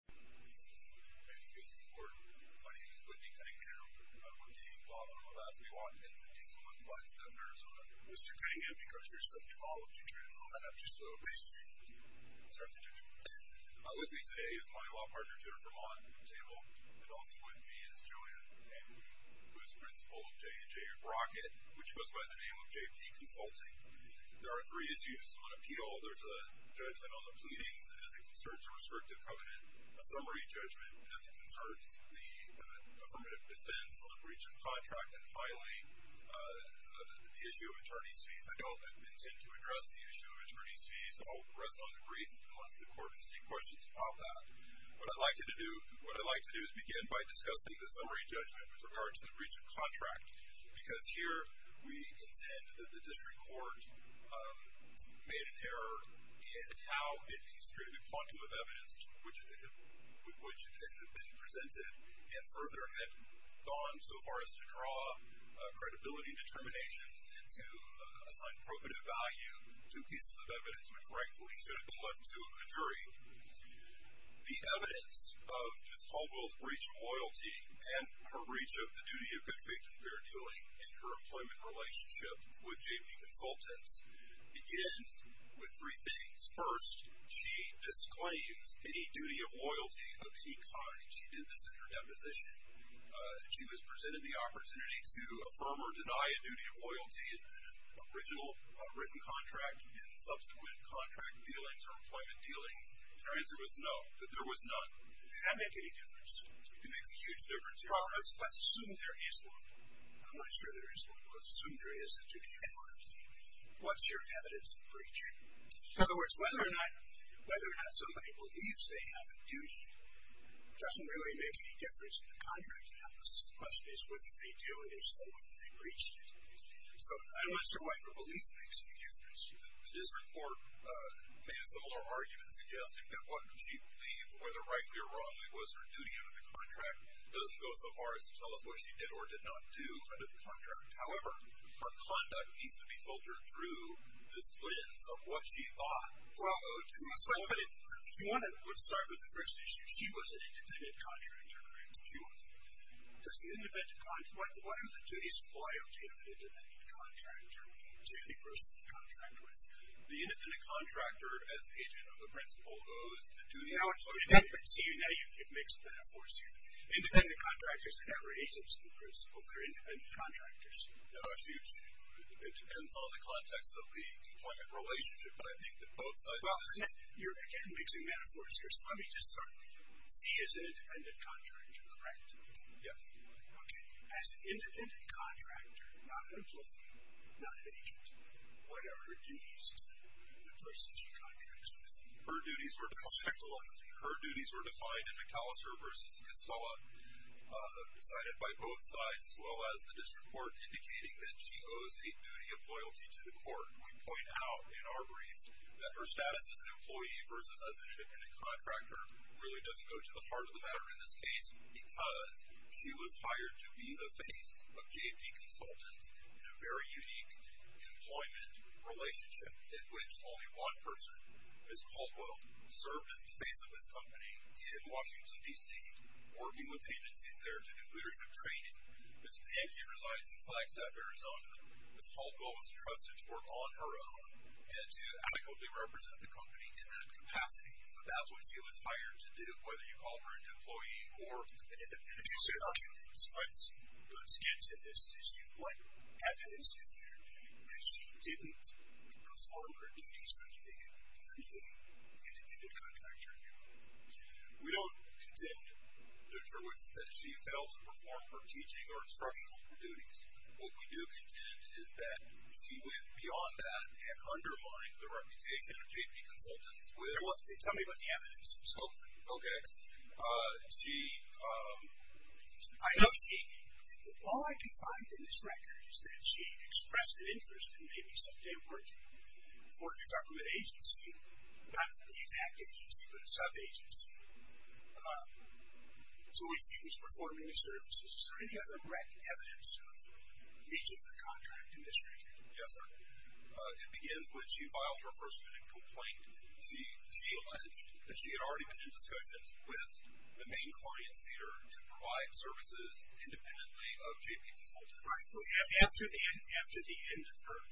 Thank you for your support. My name is Whitney Cunningham. I'm with Dean Caldwell. Last we walked in to meet someone who lives down in Arizona. Mr. Cunningham, because you're such a law teacher, I'm going to have to slow it down. I'm sorry to judge you. With me today is my law partner, Jennifer Mott, at the table. And also with me is Joanne M. Lee, who is principal of J & J Rocket, which goes by the name of J.P. Consulting. There are three issues on appeal. There's a judgment on the pleadings as it concerns a restrictive covenant, a summary judgment as it concerns the affirmative defense on the breach of contract, and finally, the issue of attorney's fees. I don't intend to address the issue of attorney's fees. I'll rest on the brief unless the court has any questions about that. What I'd like to do is begin by discussing the summary judgment with regard to the breach of contract, because here we contend that the district court made an error in how it construed the quantum of evidence with which it had been presented and further had gone so far as to draw credibility determinations and to assign probative value to pieces of evidence which, rightfully, should have been left to a jury. The evidence of Ms. Caldwell's breach of loyalty and her breach of the duty of good faith and fair dealing in her employment relationship with J.P. Consultants begins with three things. First, she disclaims any duty of loyalty of any kind. She did this in her deposition. She was presented the opportunity to affirm or deny a duty of loyalty in an original written contract in subsequent contract dealings or employment dealings, and her answer was no, that there was none. Does that make any difference? It makes a huge difference. Well, let's assume there is one. I'm not sure there is one, but let's assume there is a duty of loyalty. What's your evidence of breach? In other words, whether or not somebody believes they have a duty doesn't really make any difference in the contract analysis. The question is whether they do, and if so, whether they breached it. So I'm not sure why your belief makes any difference. The district court made a similar argument suggesting that what she believed, whether rightly or wrongly, was her duty under the contract doesn't go so far as to tell us what she did or did not do under the contract. However, her conduct needs to be filtered through this lens of what she thought. Well, if you want to start with the first issue, she was an independent contractor, right? She was. Why do the duties apply, okay, to an independent contractor, to the person they contract with? The independent contractor, as agent of the principal, owes the duty. See, now you give mixed metaphors here. Independent contractors are never agents of the principal. They're independent contractors. It depends on the context of the employment relationship, but I think that both sides of this. Well, you're, again, mixing metaphors here. Let me just start with you. She is an independent contractor, correct? Yes. Okay. As an independent contractor, not an employee, not an agent, what are her duties to the person she contracts with? Her duties were defined in McAllister v. Costello, decided by both sides, as well as the district court indicating that she owes a duty of loyalty to the court. We point out in our brief that her status as an employee versus as an independent contractor really doesn't go to the heart of the matter in this case because she was hired to be the face of J&P Consultants in a very unique employment relationship in which only one person, Ms. Caldwell, served as the face of this company in Washington, D.C., working with agencies there to do leadership training. Ms. Pankey resides in Flagstaff, Arizona. Ms. Caldwell was entrusted to work on her own and to adequately represent the company in that capacity. So that's what she was hired to do, whether you call her an employee or an independent contractor. Let's get to this issue. What evidence is there that she didn't perform her duties as an independent contractor? We don't contend that she failed to perform her teaching or instructional duties. What we do contend is that she went beyond that and undermined the reputation of J&P Consultants. Tell me about the evidence. Okay. You see, I don't see anything. All I can find in this record is that she expressed an interest in maybe some import for the government agency, not the exact agency, but a sub-agency. So we see that she was performing her services. So it has a wrecked evidence of breaching the contract in this record. Yes, sir. It begins when she filed her first written complaint. She alleged that she had already been in discussions with the main client, Cedar, to provide services independently of J&P Consultants. Right. After the end of her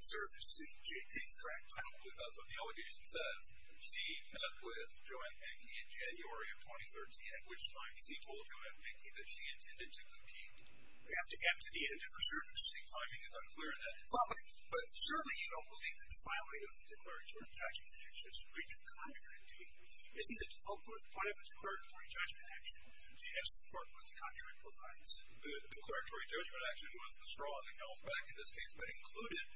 service to J&P. Correct. I don't believe that's what the allegation says. She met with Joanne Pankey in January of 2013, at which time she told Joanne Pankey that she intended to compete. After the end of her service, the timing is unclear in that instance. But certainly you don't believe that the filing of the declaratory judgment action should breach the contract, do you? Isn't it appropriate to have a declaratory judgment action? Yes, the court was to contract provides. The declaratory judgment action was the straw in the cow's back in this case, but included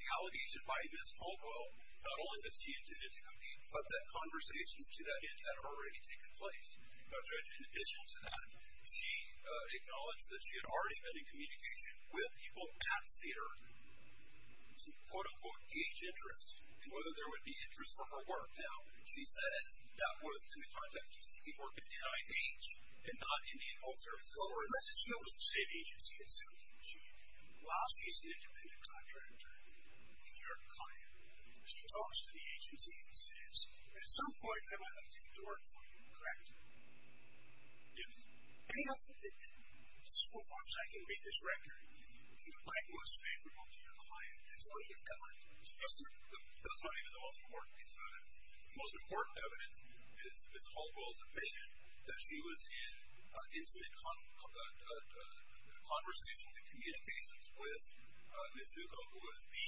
the allegation by Ms. Caldwell, not only that she intended to compete, but that conversations to that end had already taken place. In addition to that, she acknowledged that she had already been in communication with people at Cedar to, quote, unquote, gauge interest, and whether there would be interest for her work. Now, she says that was in the context of seeking work at NIH and not Indian Health Services. Well, her decision was to stay at agency at Cedar, but she allows the use of an independent contractor with your client. She talks to the agency and says, at some point I'm going to have to get to work for you, correct? Yes. Any of the so far as I can read this record, you would like most favorable to your client. That's what you've got. That's not even the most important piece of evidence. The most important evidence is Ms. Caldwell's admission that she was in intimate conversations and communications with Ms. Newcomb, who was the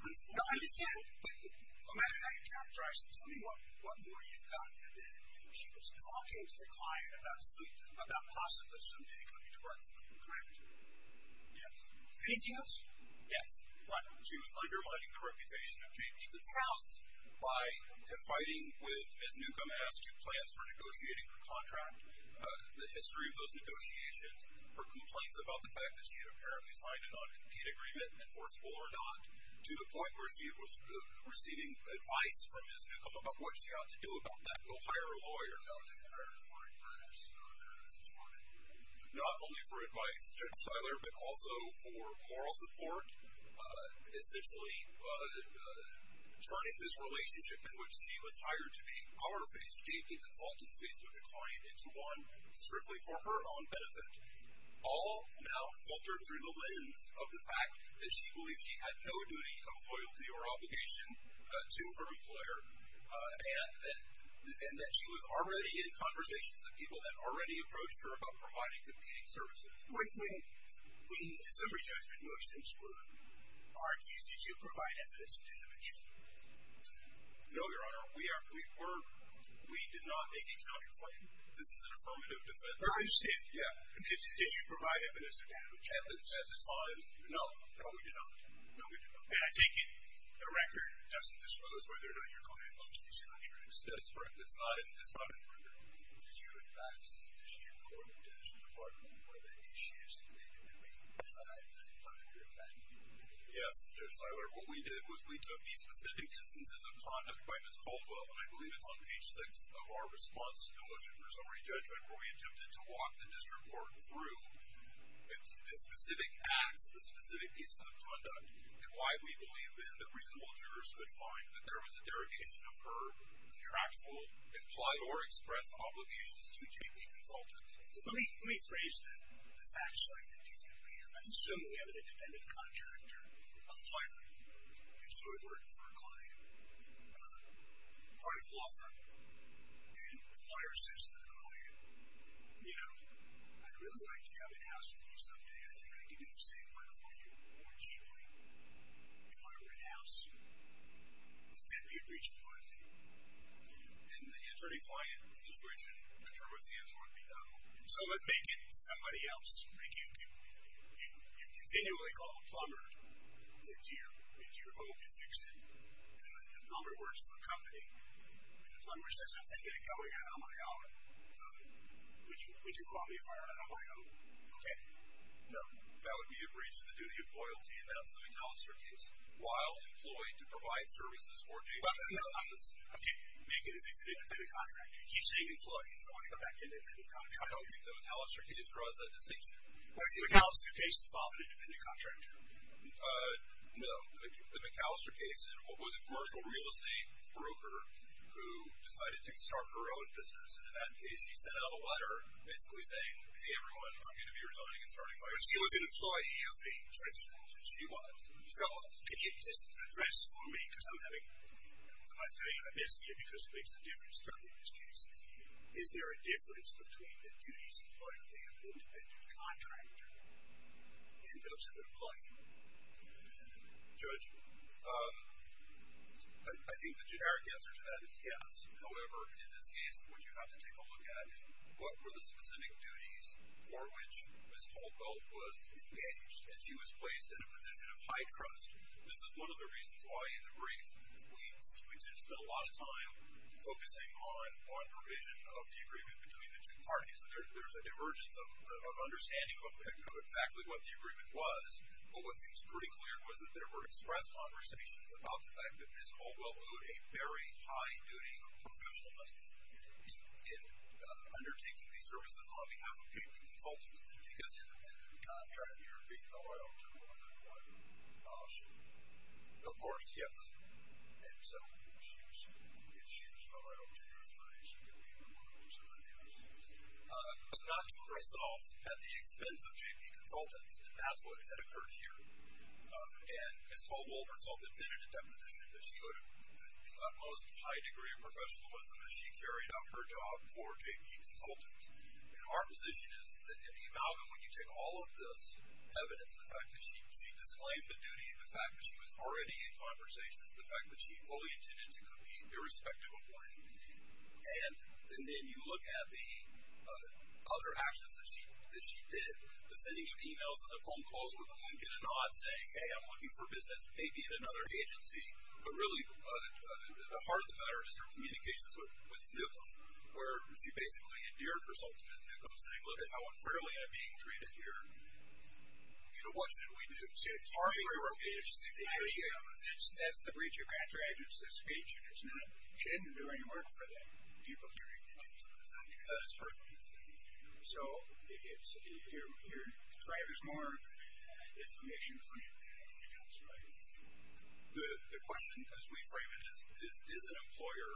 principal. No, I understand. But no matter how you characterize this, let me know what more you've got. She was talking to the client about possibly somebody coming to work for her, correct? Yes. Anything else? Yes. She was undermining the reputation of JP Goodsout by fighting with, as Newcomb asked, two plans for negotiating her contract, the history of those negotiations, her complaints about the fact that she had apparently signed a non-compete agreement, enforceable or not, to the point where she was receiving advice from Ms. Newcomb about what she ought to do about that. Go hire a lawyer. Not only for advice, Judge Steiler, but also for moral support, essentially turning this relationship in which she was hired to be our face, JP Consultants' face, with the client into one strictly for her own benefit. All now filtered through the lens of the fact that she believed she had no duty of loyalty or obligation to her employer, and that she was already in conversations with people that already approached her about providing competing services. When summary judgment motions were argued, did you provide evidence of damage? No, Your Honor. We did not make a counterclaim. This is an affirmative defense. Oh, I understand. Yeah. Did you provide evidence of damage at the time? No. No, we did not. No, we did not. And I take it the record doesn't disclose whether or not your client loves these countries. That's correct. It's not an affirmative defense. Did you, in fact, submit to your court and detention department whether any issues that may have been made were tried under your effect? Yes, Judge Steiler. What we did was we took the specific instances of conduct by Ms. Caldwell, and I believe it's on page six of our response to the motion for summary judgment, where we attempted to walk the district court through the specific acts, the specific pieces of conduct, and why we believe that reasonable jurors could find that there was a derogation of her contractual, implied or expressed obligations to GP consultants. Let me phrase that. The fact is, I assume we have an independent contractor, a flyer, used to work for a client, part of the law firm, and the flyer says to the client, you know, I'd really like to come to the house with you someday. I think I could do the same work for you more cheaply. If I were in the house, the deputy would reach for it. And the attorney-client situation, the term of the answer would be no. So let's make it somebody else. You continually call a plumber into your home to fix it. A plumber works for a company, and the plumber says, I'm going to get it going on my own. Would you call me if I were on my own? Okay. No. That would be a breach of the duty of loyalty, and that's the McAllister case, while employed to provide services for GP consultants. I keep making it at least an independent contractor. You keep saying employee. I want to go back to an independent contractor. I don't think the McAllister case draws that distinction. The McAllister case is often an independent contractor. No. The McAllister case was a commercial real estate broker who decided to start her own business. And in that case, she sent out a letter basically saying, Hey, everyone, I'm going to be resigning and starting my own business. But she was an employee of a consultant. She was. So can you just address for me, because I'm having a misdemeanor, because it makes a difference to me in this case, is there a difference between the duties of an employee and those of an employee? Judge, I think the generic answer to that is yes. However, in this case, what you have to take a look at is what were the specific duties for which Ms. Caldwell was engaged, and she was placed in a position of high trust. This is one of the reasons why in the brief, we did spend a lot of time focusing on provision of the agreement between the two parties. There's a divergence of understanding of exactly what the agreement was, but what seems pretty clear was that there were express conversations about the fact that Ms. Caldwell owed a very high duty of professionalness in undertaking these services on behalf of people and consultants, because in the end of the contract, you're being allowed to do what you want to do. Of course, yes. And so she was allowed to do her thing. Not to herself at the expense of J.P. consultants, and that's what had occurred here. And Ms. Caldwell herself admitted in that position that she owed the utmost high degree of professionalism as she carried out her job for J.P. consultants. And our position is that in the amalgam, when you take all of this evidence, the fact that she disclaimed a duty, the fact that she was already in conversations, the fact that she fully intended to compete irrespective of when, and then you look at the other actions that she did, the sending of emails and the phone calls with a wink and a nod, saying, hey, I'm looking for business, maybe at another agency. But really the heart of the matter is her communications with Snookum, where she basically endeared herself to Snookum, saying, look at how unfairly I'm being treated here. You know, what should we do? That's the breach of contract. It's the speech. She didn't do any work for the people here. That is pertinent. So your claim is more information claim than anything else, right? The question, as we frame it, is, is an employer,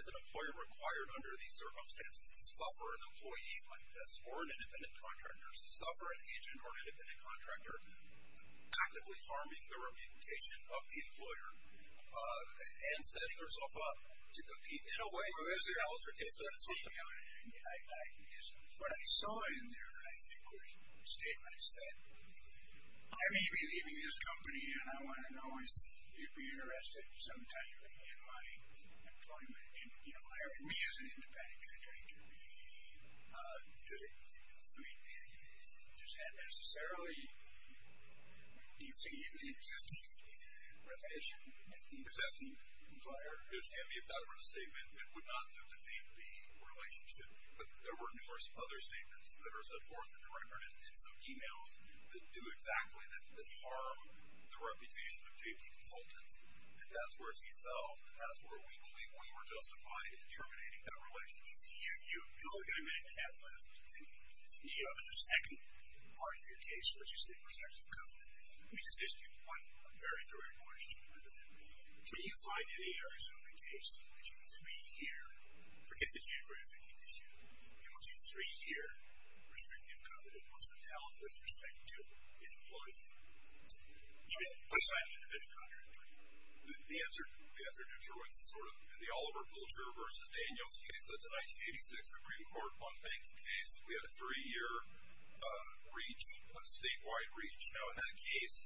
is an employer required under these circumstances to suffer an employee like this or an independent contractor, to suffer an agent or independent contractor actively harming the communication of the employer and setting herself up to compete in a way that is an altercation with Snookum? What I saw in there, I think, was statements that I may be leaving this company, and I want to know if you'd be interested sometime in my employment, in me as an independent contractor. I mean, does that necessarily, do you see any resistance in recognition of an existing employer? Yes, Tammy, if that were the statement, it would not have defeated the relationship, but there were numerous other statements that are set forth in the record and some e-mails that do exactly that, that harm the reputation of J.P. Consultants, and that's where she fell, and that's where we believe we were justified in terminating that relationship. You only have a minute and a half left, and in the second part of your case, which is the restrictive covenant, let me just ask you one very direct question. Do you find in a Arizona case in which a three-year, forget the geographic condition, in which a three-year restrictive covenant was held with respect to an employee, you may put aside an independent contractor. The answer to Troy's is sort of, in the Oliver Pulcher versus Daniels case, that's a 1986 Supreme Court one-bank case. We had a three-year reach, a statewide reach. Now, in that case,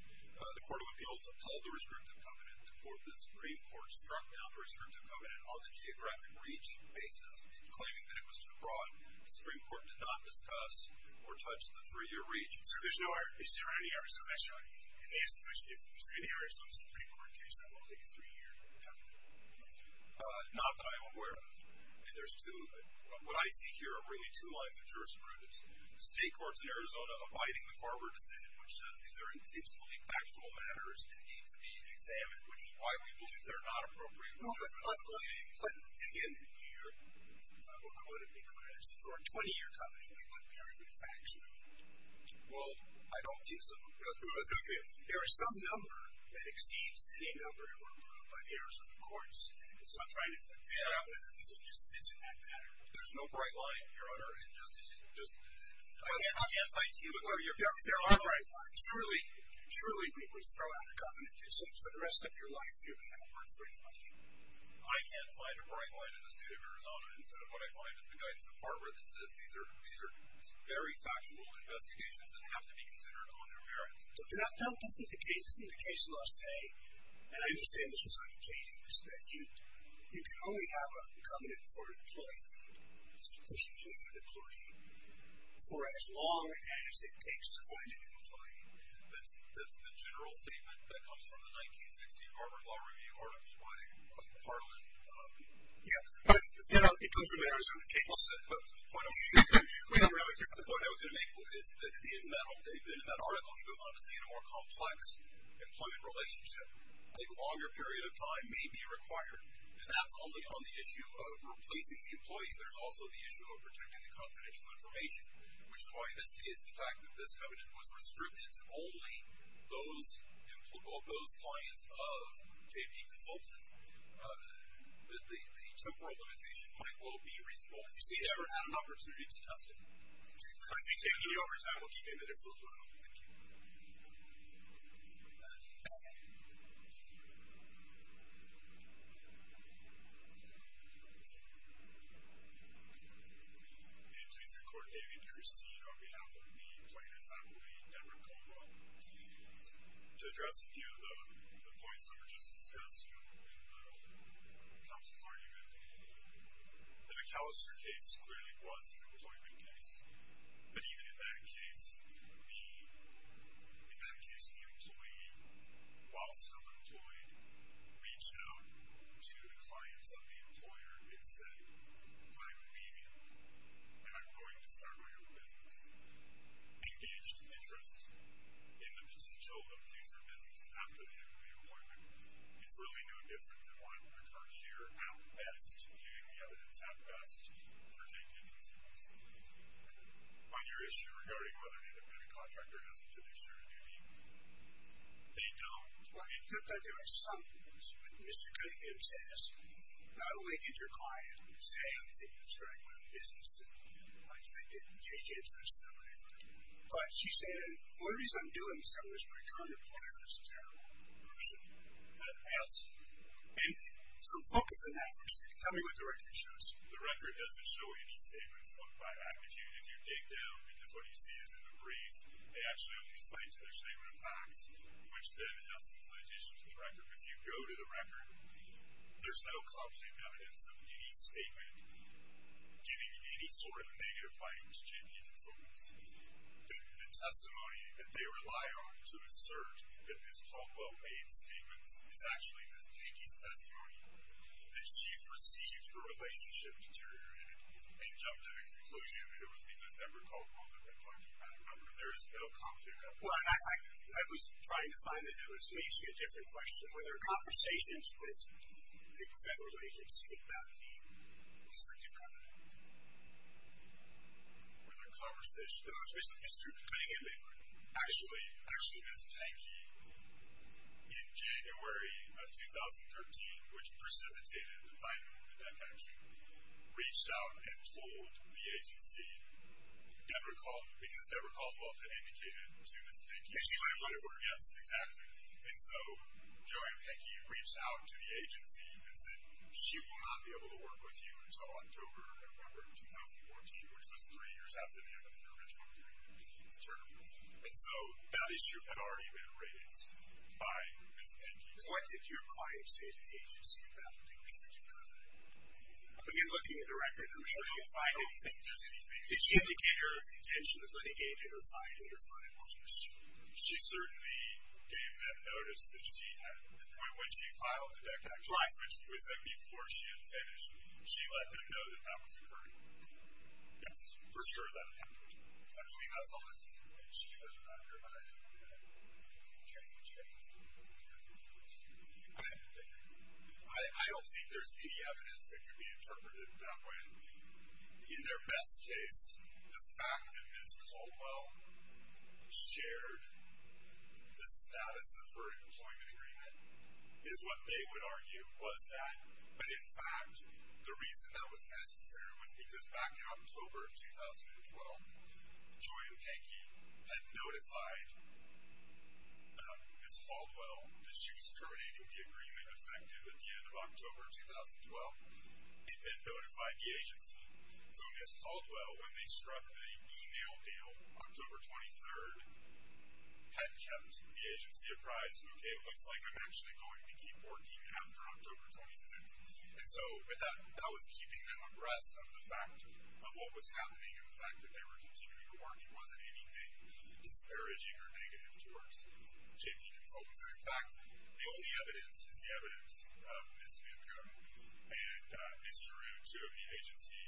the Court of Appeals upheld the restrictive covenant. The Supreme Court struck down the restrictive covenant on the geographic reach basis, claiming that it was too broad. The Supreme Court did not discuss or touch the three-year reach. So there's no, is there any Arizona? If there's any Arizona Supreme Court case, that will take a three-year covenant. Not that I'm aware of. And there's two, what I see here are really two lines of jurisprudence. The state courts in Arizona abiding the Farber decision, which says these are intensely factual matters and need to be examined, which is why we believe they're not appropriate. But again, I want to be clear. For a 20-year covenant, we want very good facts. Well, I don't think so. There is some number that exceeds any number by the Arizona courts. And so I'm trying to figure out whether this will just fit in that pattern. There's no bright line, Your Honor, in justice. I can't cite you, but there are bright lines. Surely we would throw out a covenant. It seems for the rest of your life you haven't had a word for anybody. I can't find a bright line in the state of Arizona, instead of what I find is the guidance of Farber that says these are very factual investigations that have to be considered on their merits. That doesn't indicate, the case law say, and I understand this was on occasion, is that you can only have a covenant for an employee for as long as it takes to find an employee. That's the general statement that comes from the 1960 Farber Law Review article by Harlan. Yeah. It comes from the Arizona case. The point I was going to make is that in that article, it goes on to say in a more complex employment relationship, a longer period of time may be required. And that's only on the issue of replacing the employee. There's also the issue of protecting the confidential information, which is why in this case the fact that this covenant was restricted to only those clients of J.P. Consultants, the temporal limitation might well be reasonable. You see, they never had an opportunity to test it. I'm going to be taking the overtime. We'll keep you in the different room. Thank you. And please record, David, that you're seeing on behalf of the appointed faculty, Debra Cobo. To address a few of the points that were just discussed in the council argument. The McAllister case clearly was an employment case. But even in that case, in that case, the employee, while still employed, reached out to the clients of the employer and said, I'm leaving and I'm going to start my own business. Engaged interest in the potential of future business after the end of the employment is really no different than what occurred here at best. And the evidence at best for J.P. Consultants. On your issue regarding whether an independent contractor has a fiduciary duty, they don't. Well, except that there are some issues. Mr. Cunningham says, not only did your client say, I'm thinking of starting my own business, and I didn't engage interest in that. But she said, the reason I'm doing so is my current employer is a terrible person. And so focus on that for a second. Tell me what the record shows you. The record doesn't show any statements by attitude. If you dig down, because what you see is in the brief, they actually only cite their statement of facts, which then, in essence, additions to the record. If you go to the record, there's no concrete evidence of any statement giving any sort of negative findings to J.P. Consultants. The testimony that they rely on to assert that this Caldwell made statements is actually Ms. Pinky's testimony, that she perceived her relationship deteriorated and jumped to the conclusion that it was because they were called on the record. I remember there is no concrete evidence. Well, I was trying to find the notes. May I ask you a different question? Were there conversations with the federal agency about the restrictive covenant? Were there conversations? It was basically Mr. Pinky. Actually, Ms. Pinky, in January of 2013, which precipitated the finding of the death penalty, reached out and told the agency, because Deborah Caldwell had indicated to Ms. Pinky. Yes, exactly. And so Joe and Pinky reached out to the agency and said, she will not be able to work with you until October or November of 2014, which was three years after the end of the original hearing. And so that issue had already been raised by Ms. Pinky. What did your client say to the agency about the restrictive covenant? When you're looking at the record, I'm sure you find anything. Did she indicate her intention to litigate it or find it? She certainly gave them notice that she had, when she filed the death tax claim, which was then before she had finished, she let them know that that was occurring. Yes, for sure that happened. I believe that's all this is. She doesn't know. I don't think there's any evidence that could be interpreted that way. In their best case, the fact that Ms. Caldwell shared the status of her employment agreement is what they would argue was that. But in fact, the reason that was necessary was because back in October of 2012, Joe and Pinky had notified Ms. Caldwell that she was terminating the agreement effective at the end of October of 2012. They then notified the agency. So Ms. Caldwell, when they struck the email deal October 23rd, had kept the agency apprised, okay, it looks like I'm actually going to keep working after October 26th. And so that was keeping them abreast of the fact of what was happening and the fact that they were continuing to work. It wasn't anything disparaging or negative towards J.P. Consultants. And, in fact, the only evidence is the evidence of Ms. Muguru and Ms. Giroux, two of the agency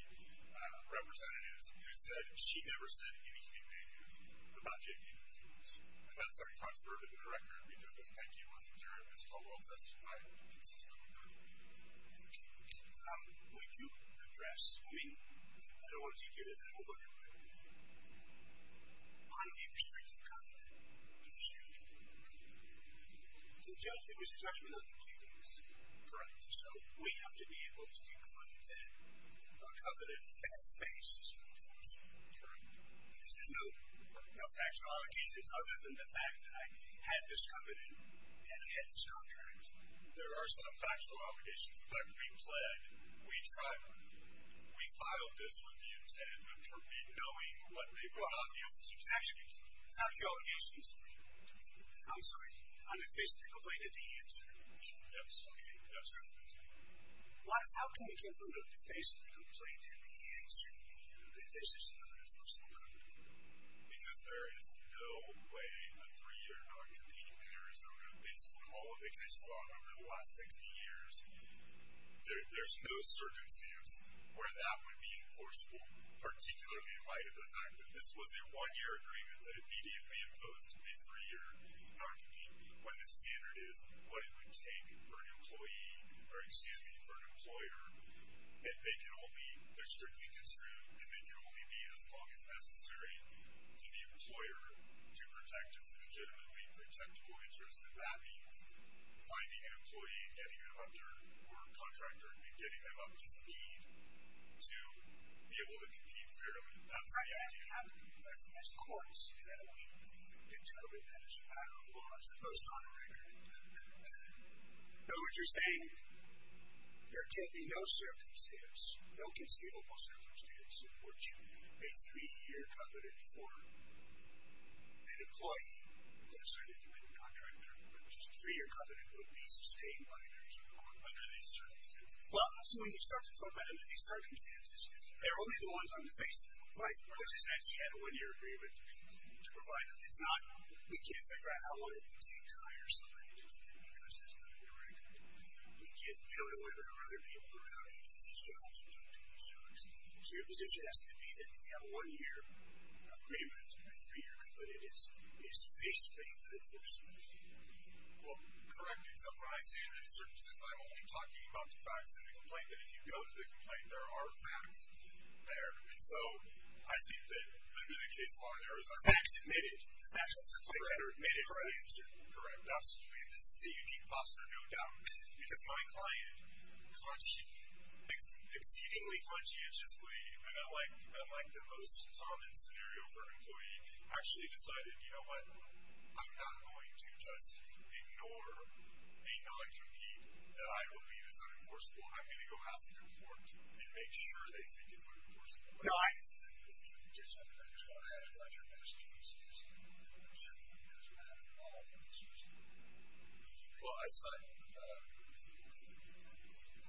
representatives, who said she never said anything negative about J.P. Consultants. And that's every time for her to be corrected, because Ms. Muguru and Ms. Caldwell testified consistently about the agreement. Okay, thank you. Would you address, I mean, I don't want to take you to that whole other point, but on the restrictive covenant issue, it was a judgment on the J.P. Consultants. Correct. So we have to be able to conclude that a covenant is faced. Correct. Because there's no factual allegations other than the fact that I had this covenant and I had this contract. There are some factual allegations. In fact, we pled, we tried, we filed this with the intent of knowing what they brought on the office. Actually, factual allegations. I'm sorry. On the face of the complaint and the answer. Yes, okay. Yes, sir. Thank you. How can we conclude on the face of the complaint and the answer, that this is an unenforceable covenant? Because there is no way a three-year non-competing Arizona, based on all of the cases we've had over the last 60 years, there's no circumstance where that would be enforceable, particularly in light of the fact that this was a one-year agreement that immediately imposed a three-year non-competing, when the standard is what it would take for an employee, or excuse me, for an employer, and they can only, they're strictly construed, and they can only be as long as necessary for the employer to protect its legitimately protectable interest. And that means finding an employee and getting them up there, or a contractor and getting them up to speed to be able to compete fairly. That's the idea. And that's what we have to do as courts, you know, in determining that as a matter of law, as opposed to on a record. In other words, you're saying there can't be no circumstance, no conceivable circumstance, in which a three-year covenant for an employee, let's say that you had a contractor, which is a three-year covenant would be sustained by their human rights under these circumstances. Well, also, when you start to talk about under these circumstances, they're only the ones on the face of the complaint, which is that she had a one-year agreement to provide them. It's not, we can't figure out how long it would take to hire somebody to do that because there's not a record. We can't, we don't know whether there are other people around who do these jobs or don't do these jobs. So your position has to be that if you have a one-year agreement and a three-year covenant, it's this thing that enforces it. Well, correct. In some rises and circumstances, I'm only talking about the facts of the complaint, but if you go to the complaint, there are facts there. And so I think that could be the case on Arizona. Facts admitted. Correct. Correct. Absolutely. And this is a unique posture, no doubt, because my client exceedingly conscientiously, and I like the most common scenario for an employee, actually decided, you know what, I'm not going to just ignore a non-compete that I believe is going to pass the report and make sure they think it's what it was. No, I. I just want to add to that. Your message was, I'm sure you had a lot of conversations. Well, I signed up for that.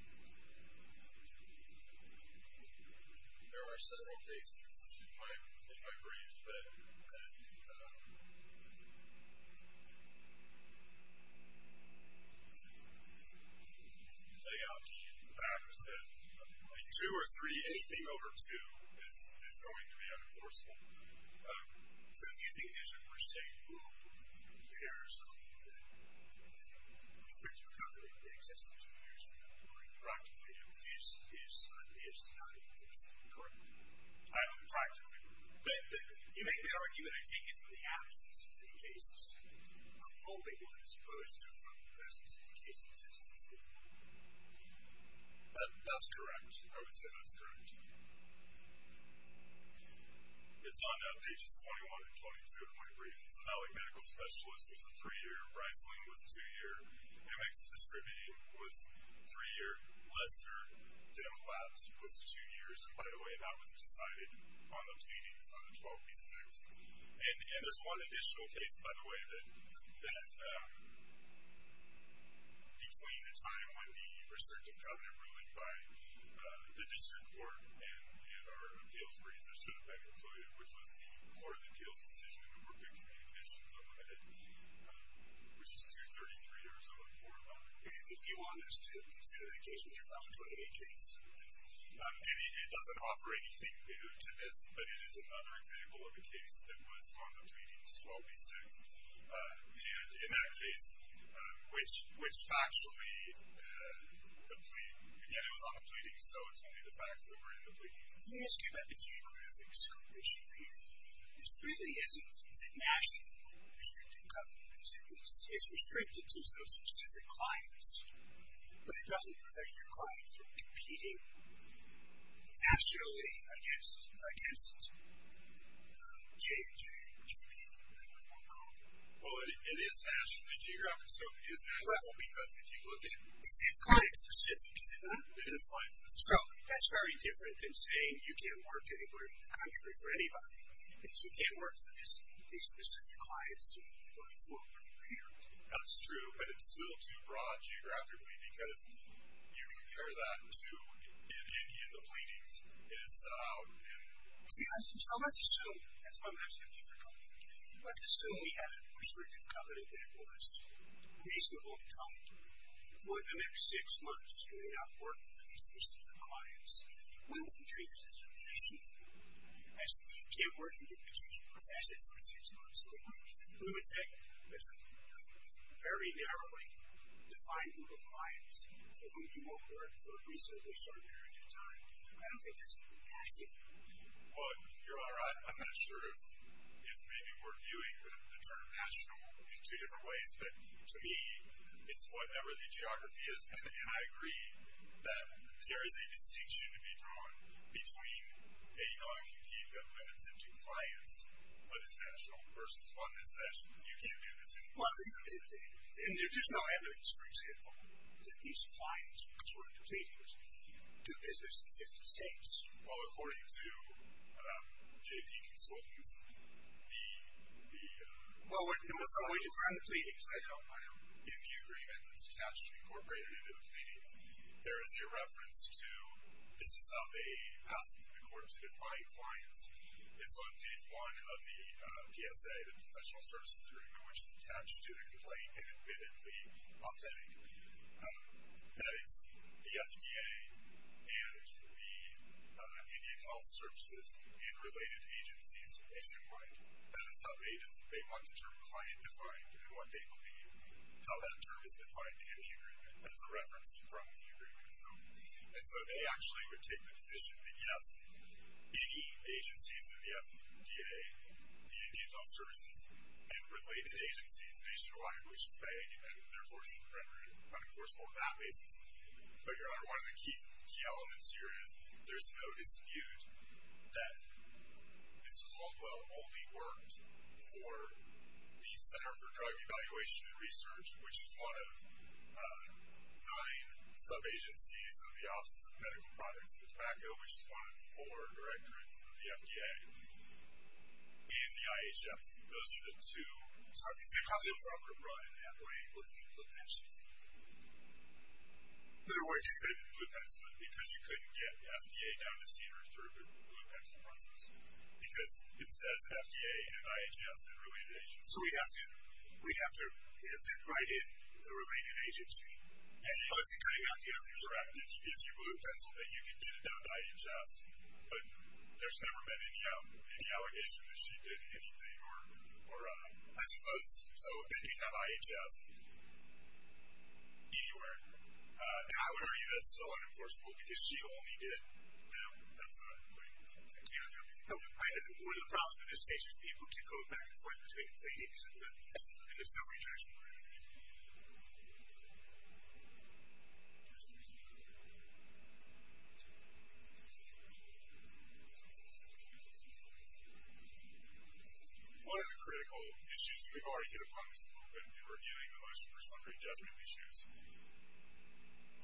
There were several cases in my brief that, you know, lay out the fact that a two or three, anything over two is going to be unenforceable. So do you think it is a per se rule in Arizona that restricts your covenant, that exists in two years from now, where it practically exists, is not enforced? Correct. Practically. You made me argue that I take it from the absence of any cases. I'm hoping what it's opposed to from the absence of any cases is the same. That's correct. I would say that's correct. It's on pages 21 and 22 of my brief. So Malik Medical Specialist was a three-year. Reisling was two-year. MX Distribute was three-year. Lesser Dental Labs was two years. By the way, that was decided on the pleadings on the 12th. And there's one additional case, by the way, that between the time when the restrictive covenant ruling by the district court and our appeals brief, there should have been included, which was the more than appeals decision to work with communications unlimited, which is 233 Arizona. And if you want us to consider the case, would you file a 28 case? It doesn't offer anything new to us, but it is another example of a case that was on the pleadings, 12B6, and in that case, which factually, again, it was on the pleadings, so it's only the facts that were in the pleadings. Let me ask you about the geographic scope issue here. This really isn't a national restrictive covenant. It's restricted to some specific clients, but it doesn't prevent your clients from competing nationally, I guess, against JJ, JP, I don't know what they're called. Well, it is national. The geographic scope is national because if you look at it. It's client specific, is it not? It is client specific. So that's very different than saying you can't work anywhere in the country for anybody. If you can't work for these specific clients you're looking for when you're here. That's true. But it's still too broad geographically because you compare that to in any of the pleadings. It is set out in. See, so let's assume, that's why I'm asking you for a covenant. Let's assume we had a restrictive covenant that was reasonable in tone. For the next six months, you may not work with these specific clients. We wouldn't treat this as a reasonable thing. As Steve can't work in the country, he's a professional for six months. We would say there's a very narrowly defined group of clients for whom you won't work for a reasonably short period of time. I don't think that's a capacity. Well, you're all right. I'm not sure if maybe we're viewing the term national in two different ways. But to me, it's whatever the geography is. And I agree that there is a distinction to be drawn between a non-compete that limits it to clients, but it's national versus one that says, you can't do this anymore. Well, there's no evidence, for example, that these clients, because we're in the pleadings, do business in 50 states. Well, according to J.P. Consultants, the, the, well, in the agreement that's actually incorporated into the pleadings, there is a reference to, this is how they ask the court to define clients. It's on page one of the PSA, the Professional Services Agreement, which is attached to the complaint, and admittedly authentic. That it's the FDA and the Indian Health Services and related agencies nationwide. That is how they want the term client defined and what they believe, how that term is defined in the agreement. That is a reference from the agreement itself. And so they actually would take the position that, yes, any agencies of the FDA, the Indian Health Services, and related agencies nationwide, which is how they get their force, unenforceable on that basis. But your honor, one of the key, key elements here is, there's no dispute that this was all, well, only worked for the Center for Drug Evaluation and Research, which is one of nine sub-agencies of the Office of Medical Products at PACO, which is one of four directorates of the FDA. And the IHS. Those are the two. They probably would have run in that way with the blue pencil. There were two things. The blue pencil, because you couldn't get FDA down to Cedars through the blue pencil process. Because it says FDA and IHS and related agencies. So we'd have to, we'd have to invite in the related agency. As you know, it's been cutting out the FDA. If you blew the pencil, then you could get it down to IHS. But there's never been any allegation that she did anything, or I suppose. So they could have IHS anywhere. And I would argue that's still unenforceable, because she only did them. That's what I'm pointing to. Thank you. One of the problems with this case is people keep going back and forth between claims and assembly judgment. One of the critical issues, we've already hit upon this a little bit when we were reviewing the motion for summary judgment issues.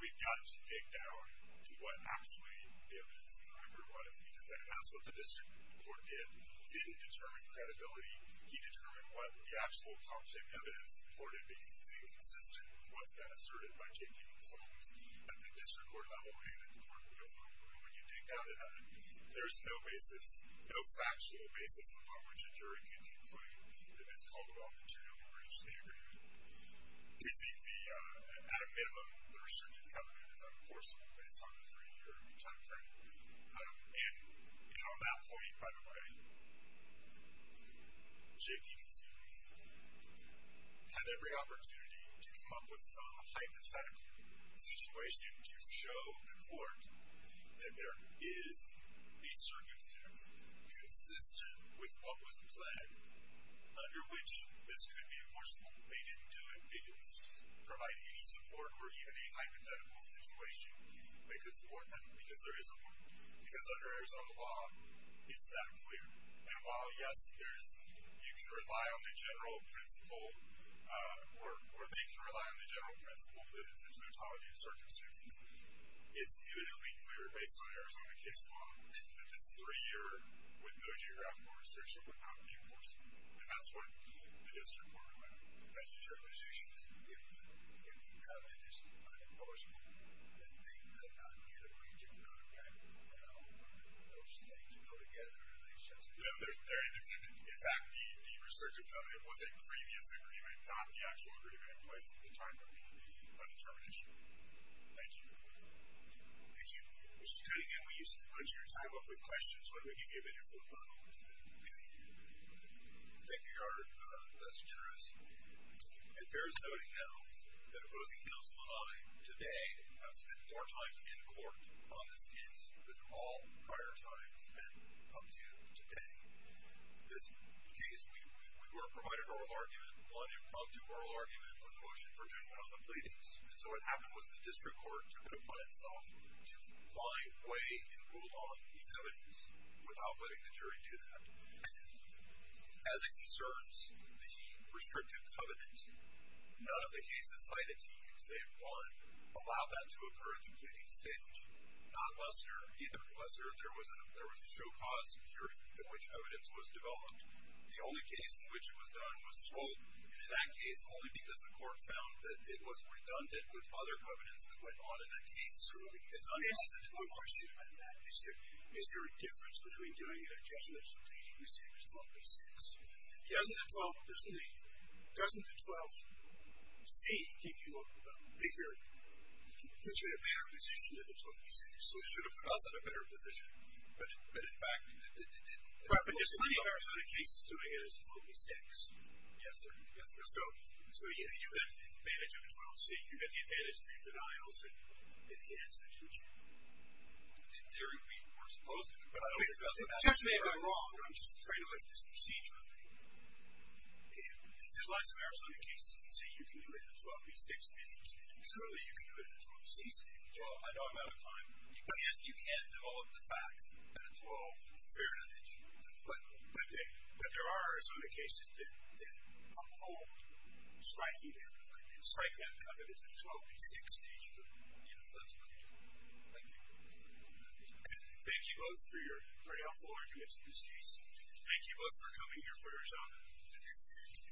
We've got to dig down to what actually the evidence in the record was, because that's what the district court did. He didn't determine credibility. He determined what the actual concrete evidence supported, because it's inconsistent with what's been asserted by J.P. Holmes at the district court level and at the court of appeals level. And when you dig down to that, there's no basis, no factual basis upon which a jury can conclude that it's called off material in the British state agreement. We think the, at a minimum, the restrictive covenant is unenforceable based on the three year time frame. And on that point, by the way, J.P. Consumers had every opportunity to come up with some hypothetical situation to show the court that there is a circumstance consistent with what was pledged under which this could be enforceable. They didn't do it because providing any support or even a hypothetical situation, they could support that because there is a point. Because under Arizona law, it's that clear. And while, yes, there's, you can rely on the general principle, or they can rely on the general principle that it's a totality of circumstances. It's uniquely clear based on Arizona case law that this three year, with no geographical restriction, would not be enforceable. And that's what the district court allowed. If the covenant is unenforceable, then they could not get a wager from another bank. Those things go together. They're independent. In fact, the restrictive covenant was a previous agreement, not the actual agreement in place at the time of the undetermined issue. Thank you. Thank you. Mr. Cunningham, we used to put your time up with questions. Why don't we give you a minute for a moment? Thank you, Your Honor. That's generous. It bears noting now that opposing counsel and I, today, have spent more time in court on this case than all prior times and come to today. This case, we were provided oral argument, one impromptu oral argument on the motion for judgment on the pleadings. And so what happened was the district court took it upon itself to find a way to move along the covenants without letting the jury do that. As it concerns the restrictive covenant, none of the cases cited to you, save one, allow that to occur at the pleading stage. Not Lester, neither did Lester. There was a show cause period in which evidence was developed. The only case in which it was done was Swope. And in that case, only because the court found that it was redundant with other covenants that went on in that case. Yes, Your Honor. One question about that. Is there a difference between doing a judgment at the pleading stage as 12B-6? Doesn't the 12C give you a bigger, potentially a better position than the 12B-6? So it should have put us in a better position. But, in fact, it didn't. But there's plenty of Arizona cases doing it as 12B-6. Yes, sir. Yes, sir. So you get the advantage of the 12C. You get the advantage through denial, so you enhance it, don't you? In theory, it would be more supposed to. But I don't think that's what that's for. You may have been wrong, but I'm just trying to look at this procedure thing. There's lots of Arizona cases that say you can do it in a 12B-6 stage, and certainly you can do it in a 12C stage. Well, I know I'm out of time. You can't develop the facts at a 12 stage. Fair enough. But there are some cases that uphold striking that covenant. So it's a 12B-6 stage, but that's pretty good. Thank you. Thank you both for your very helpful arguments, Ms. Casey. Thank you both for coming here for Arizona. Thank you.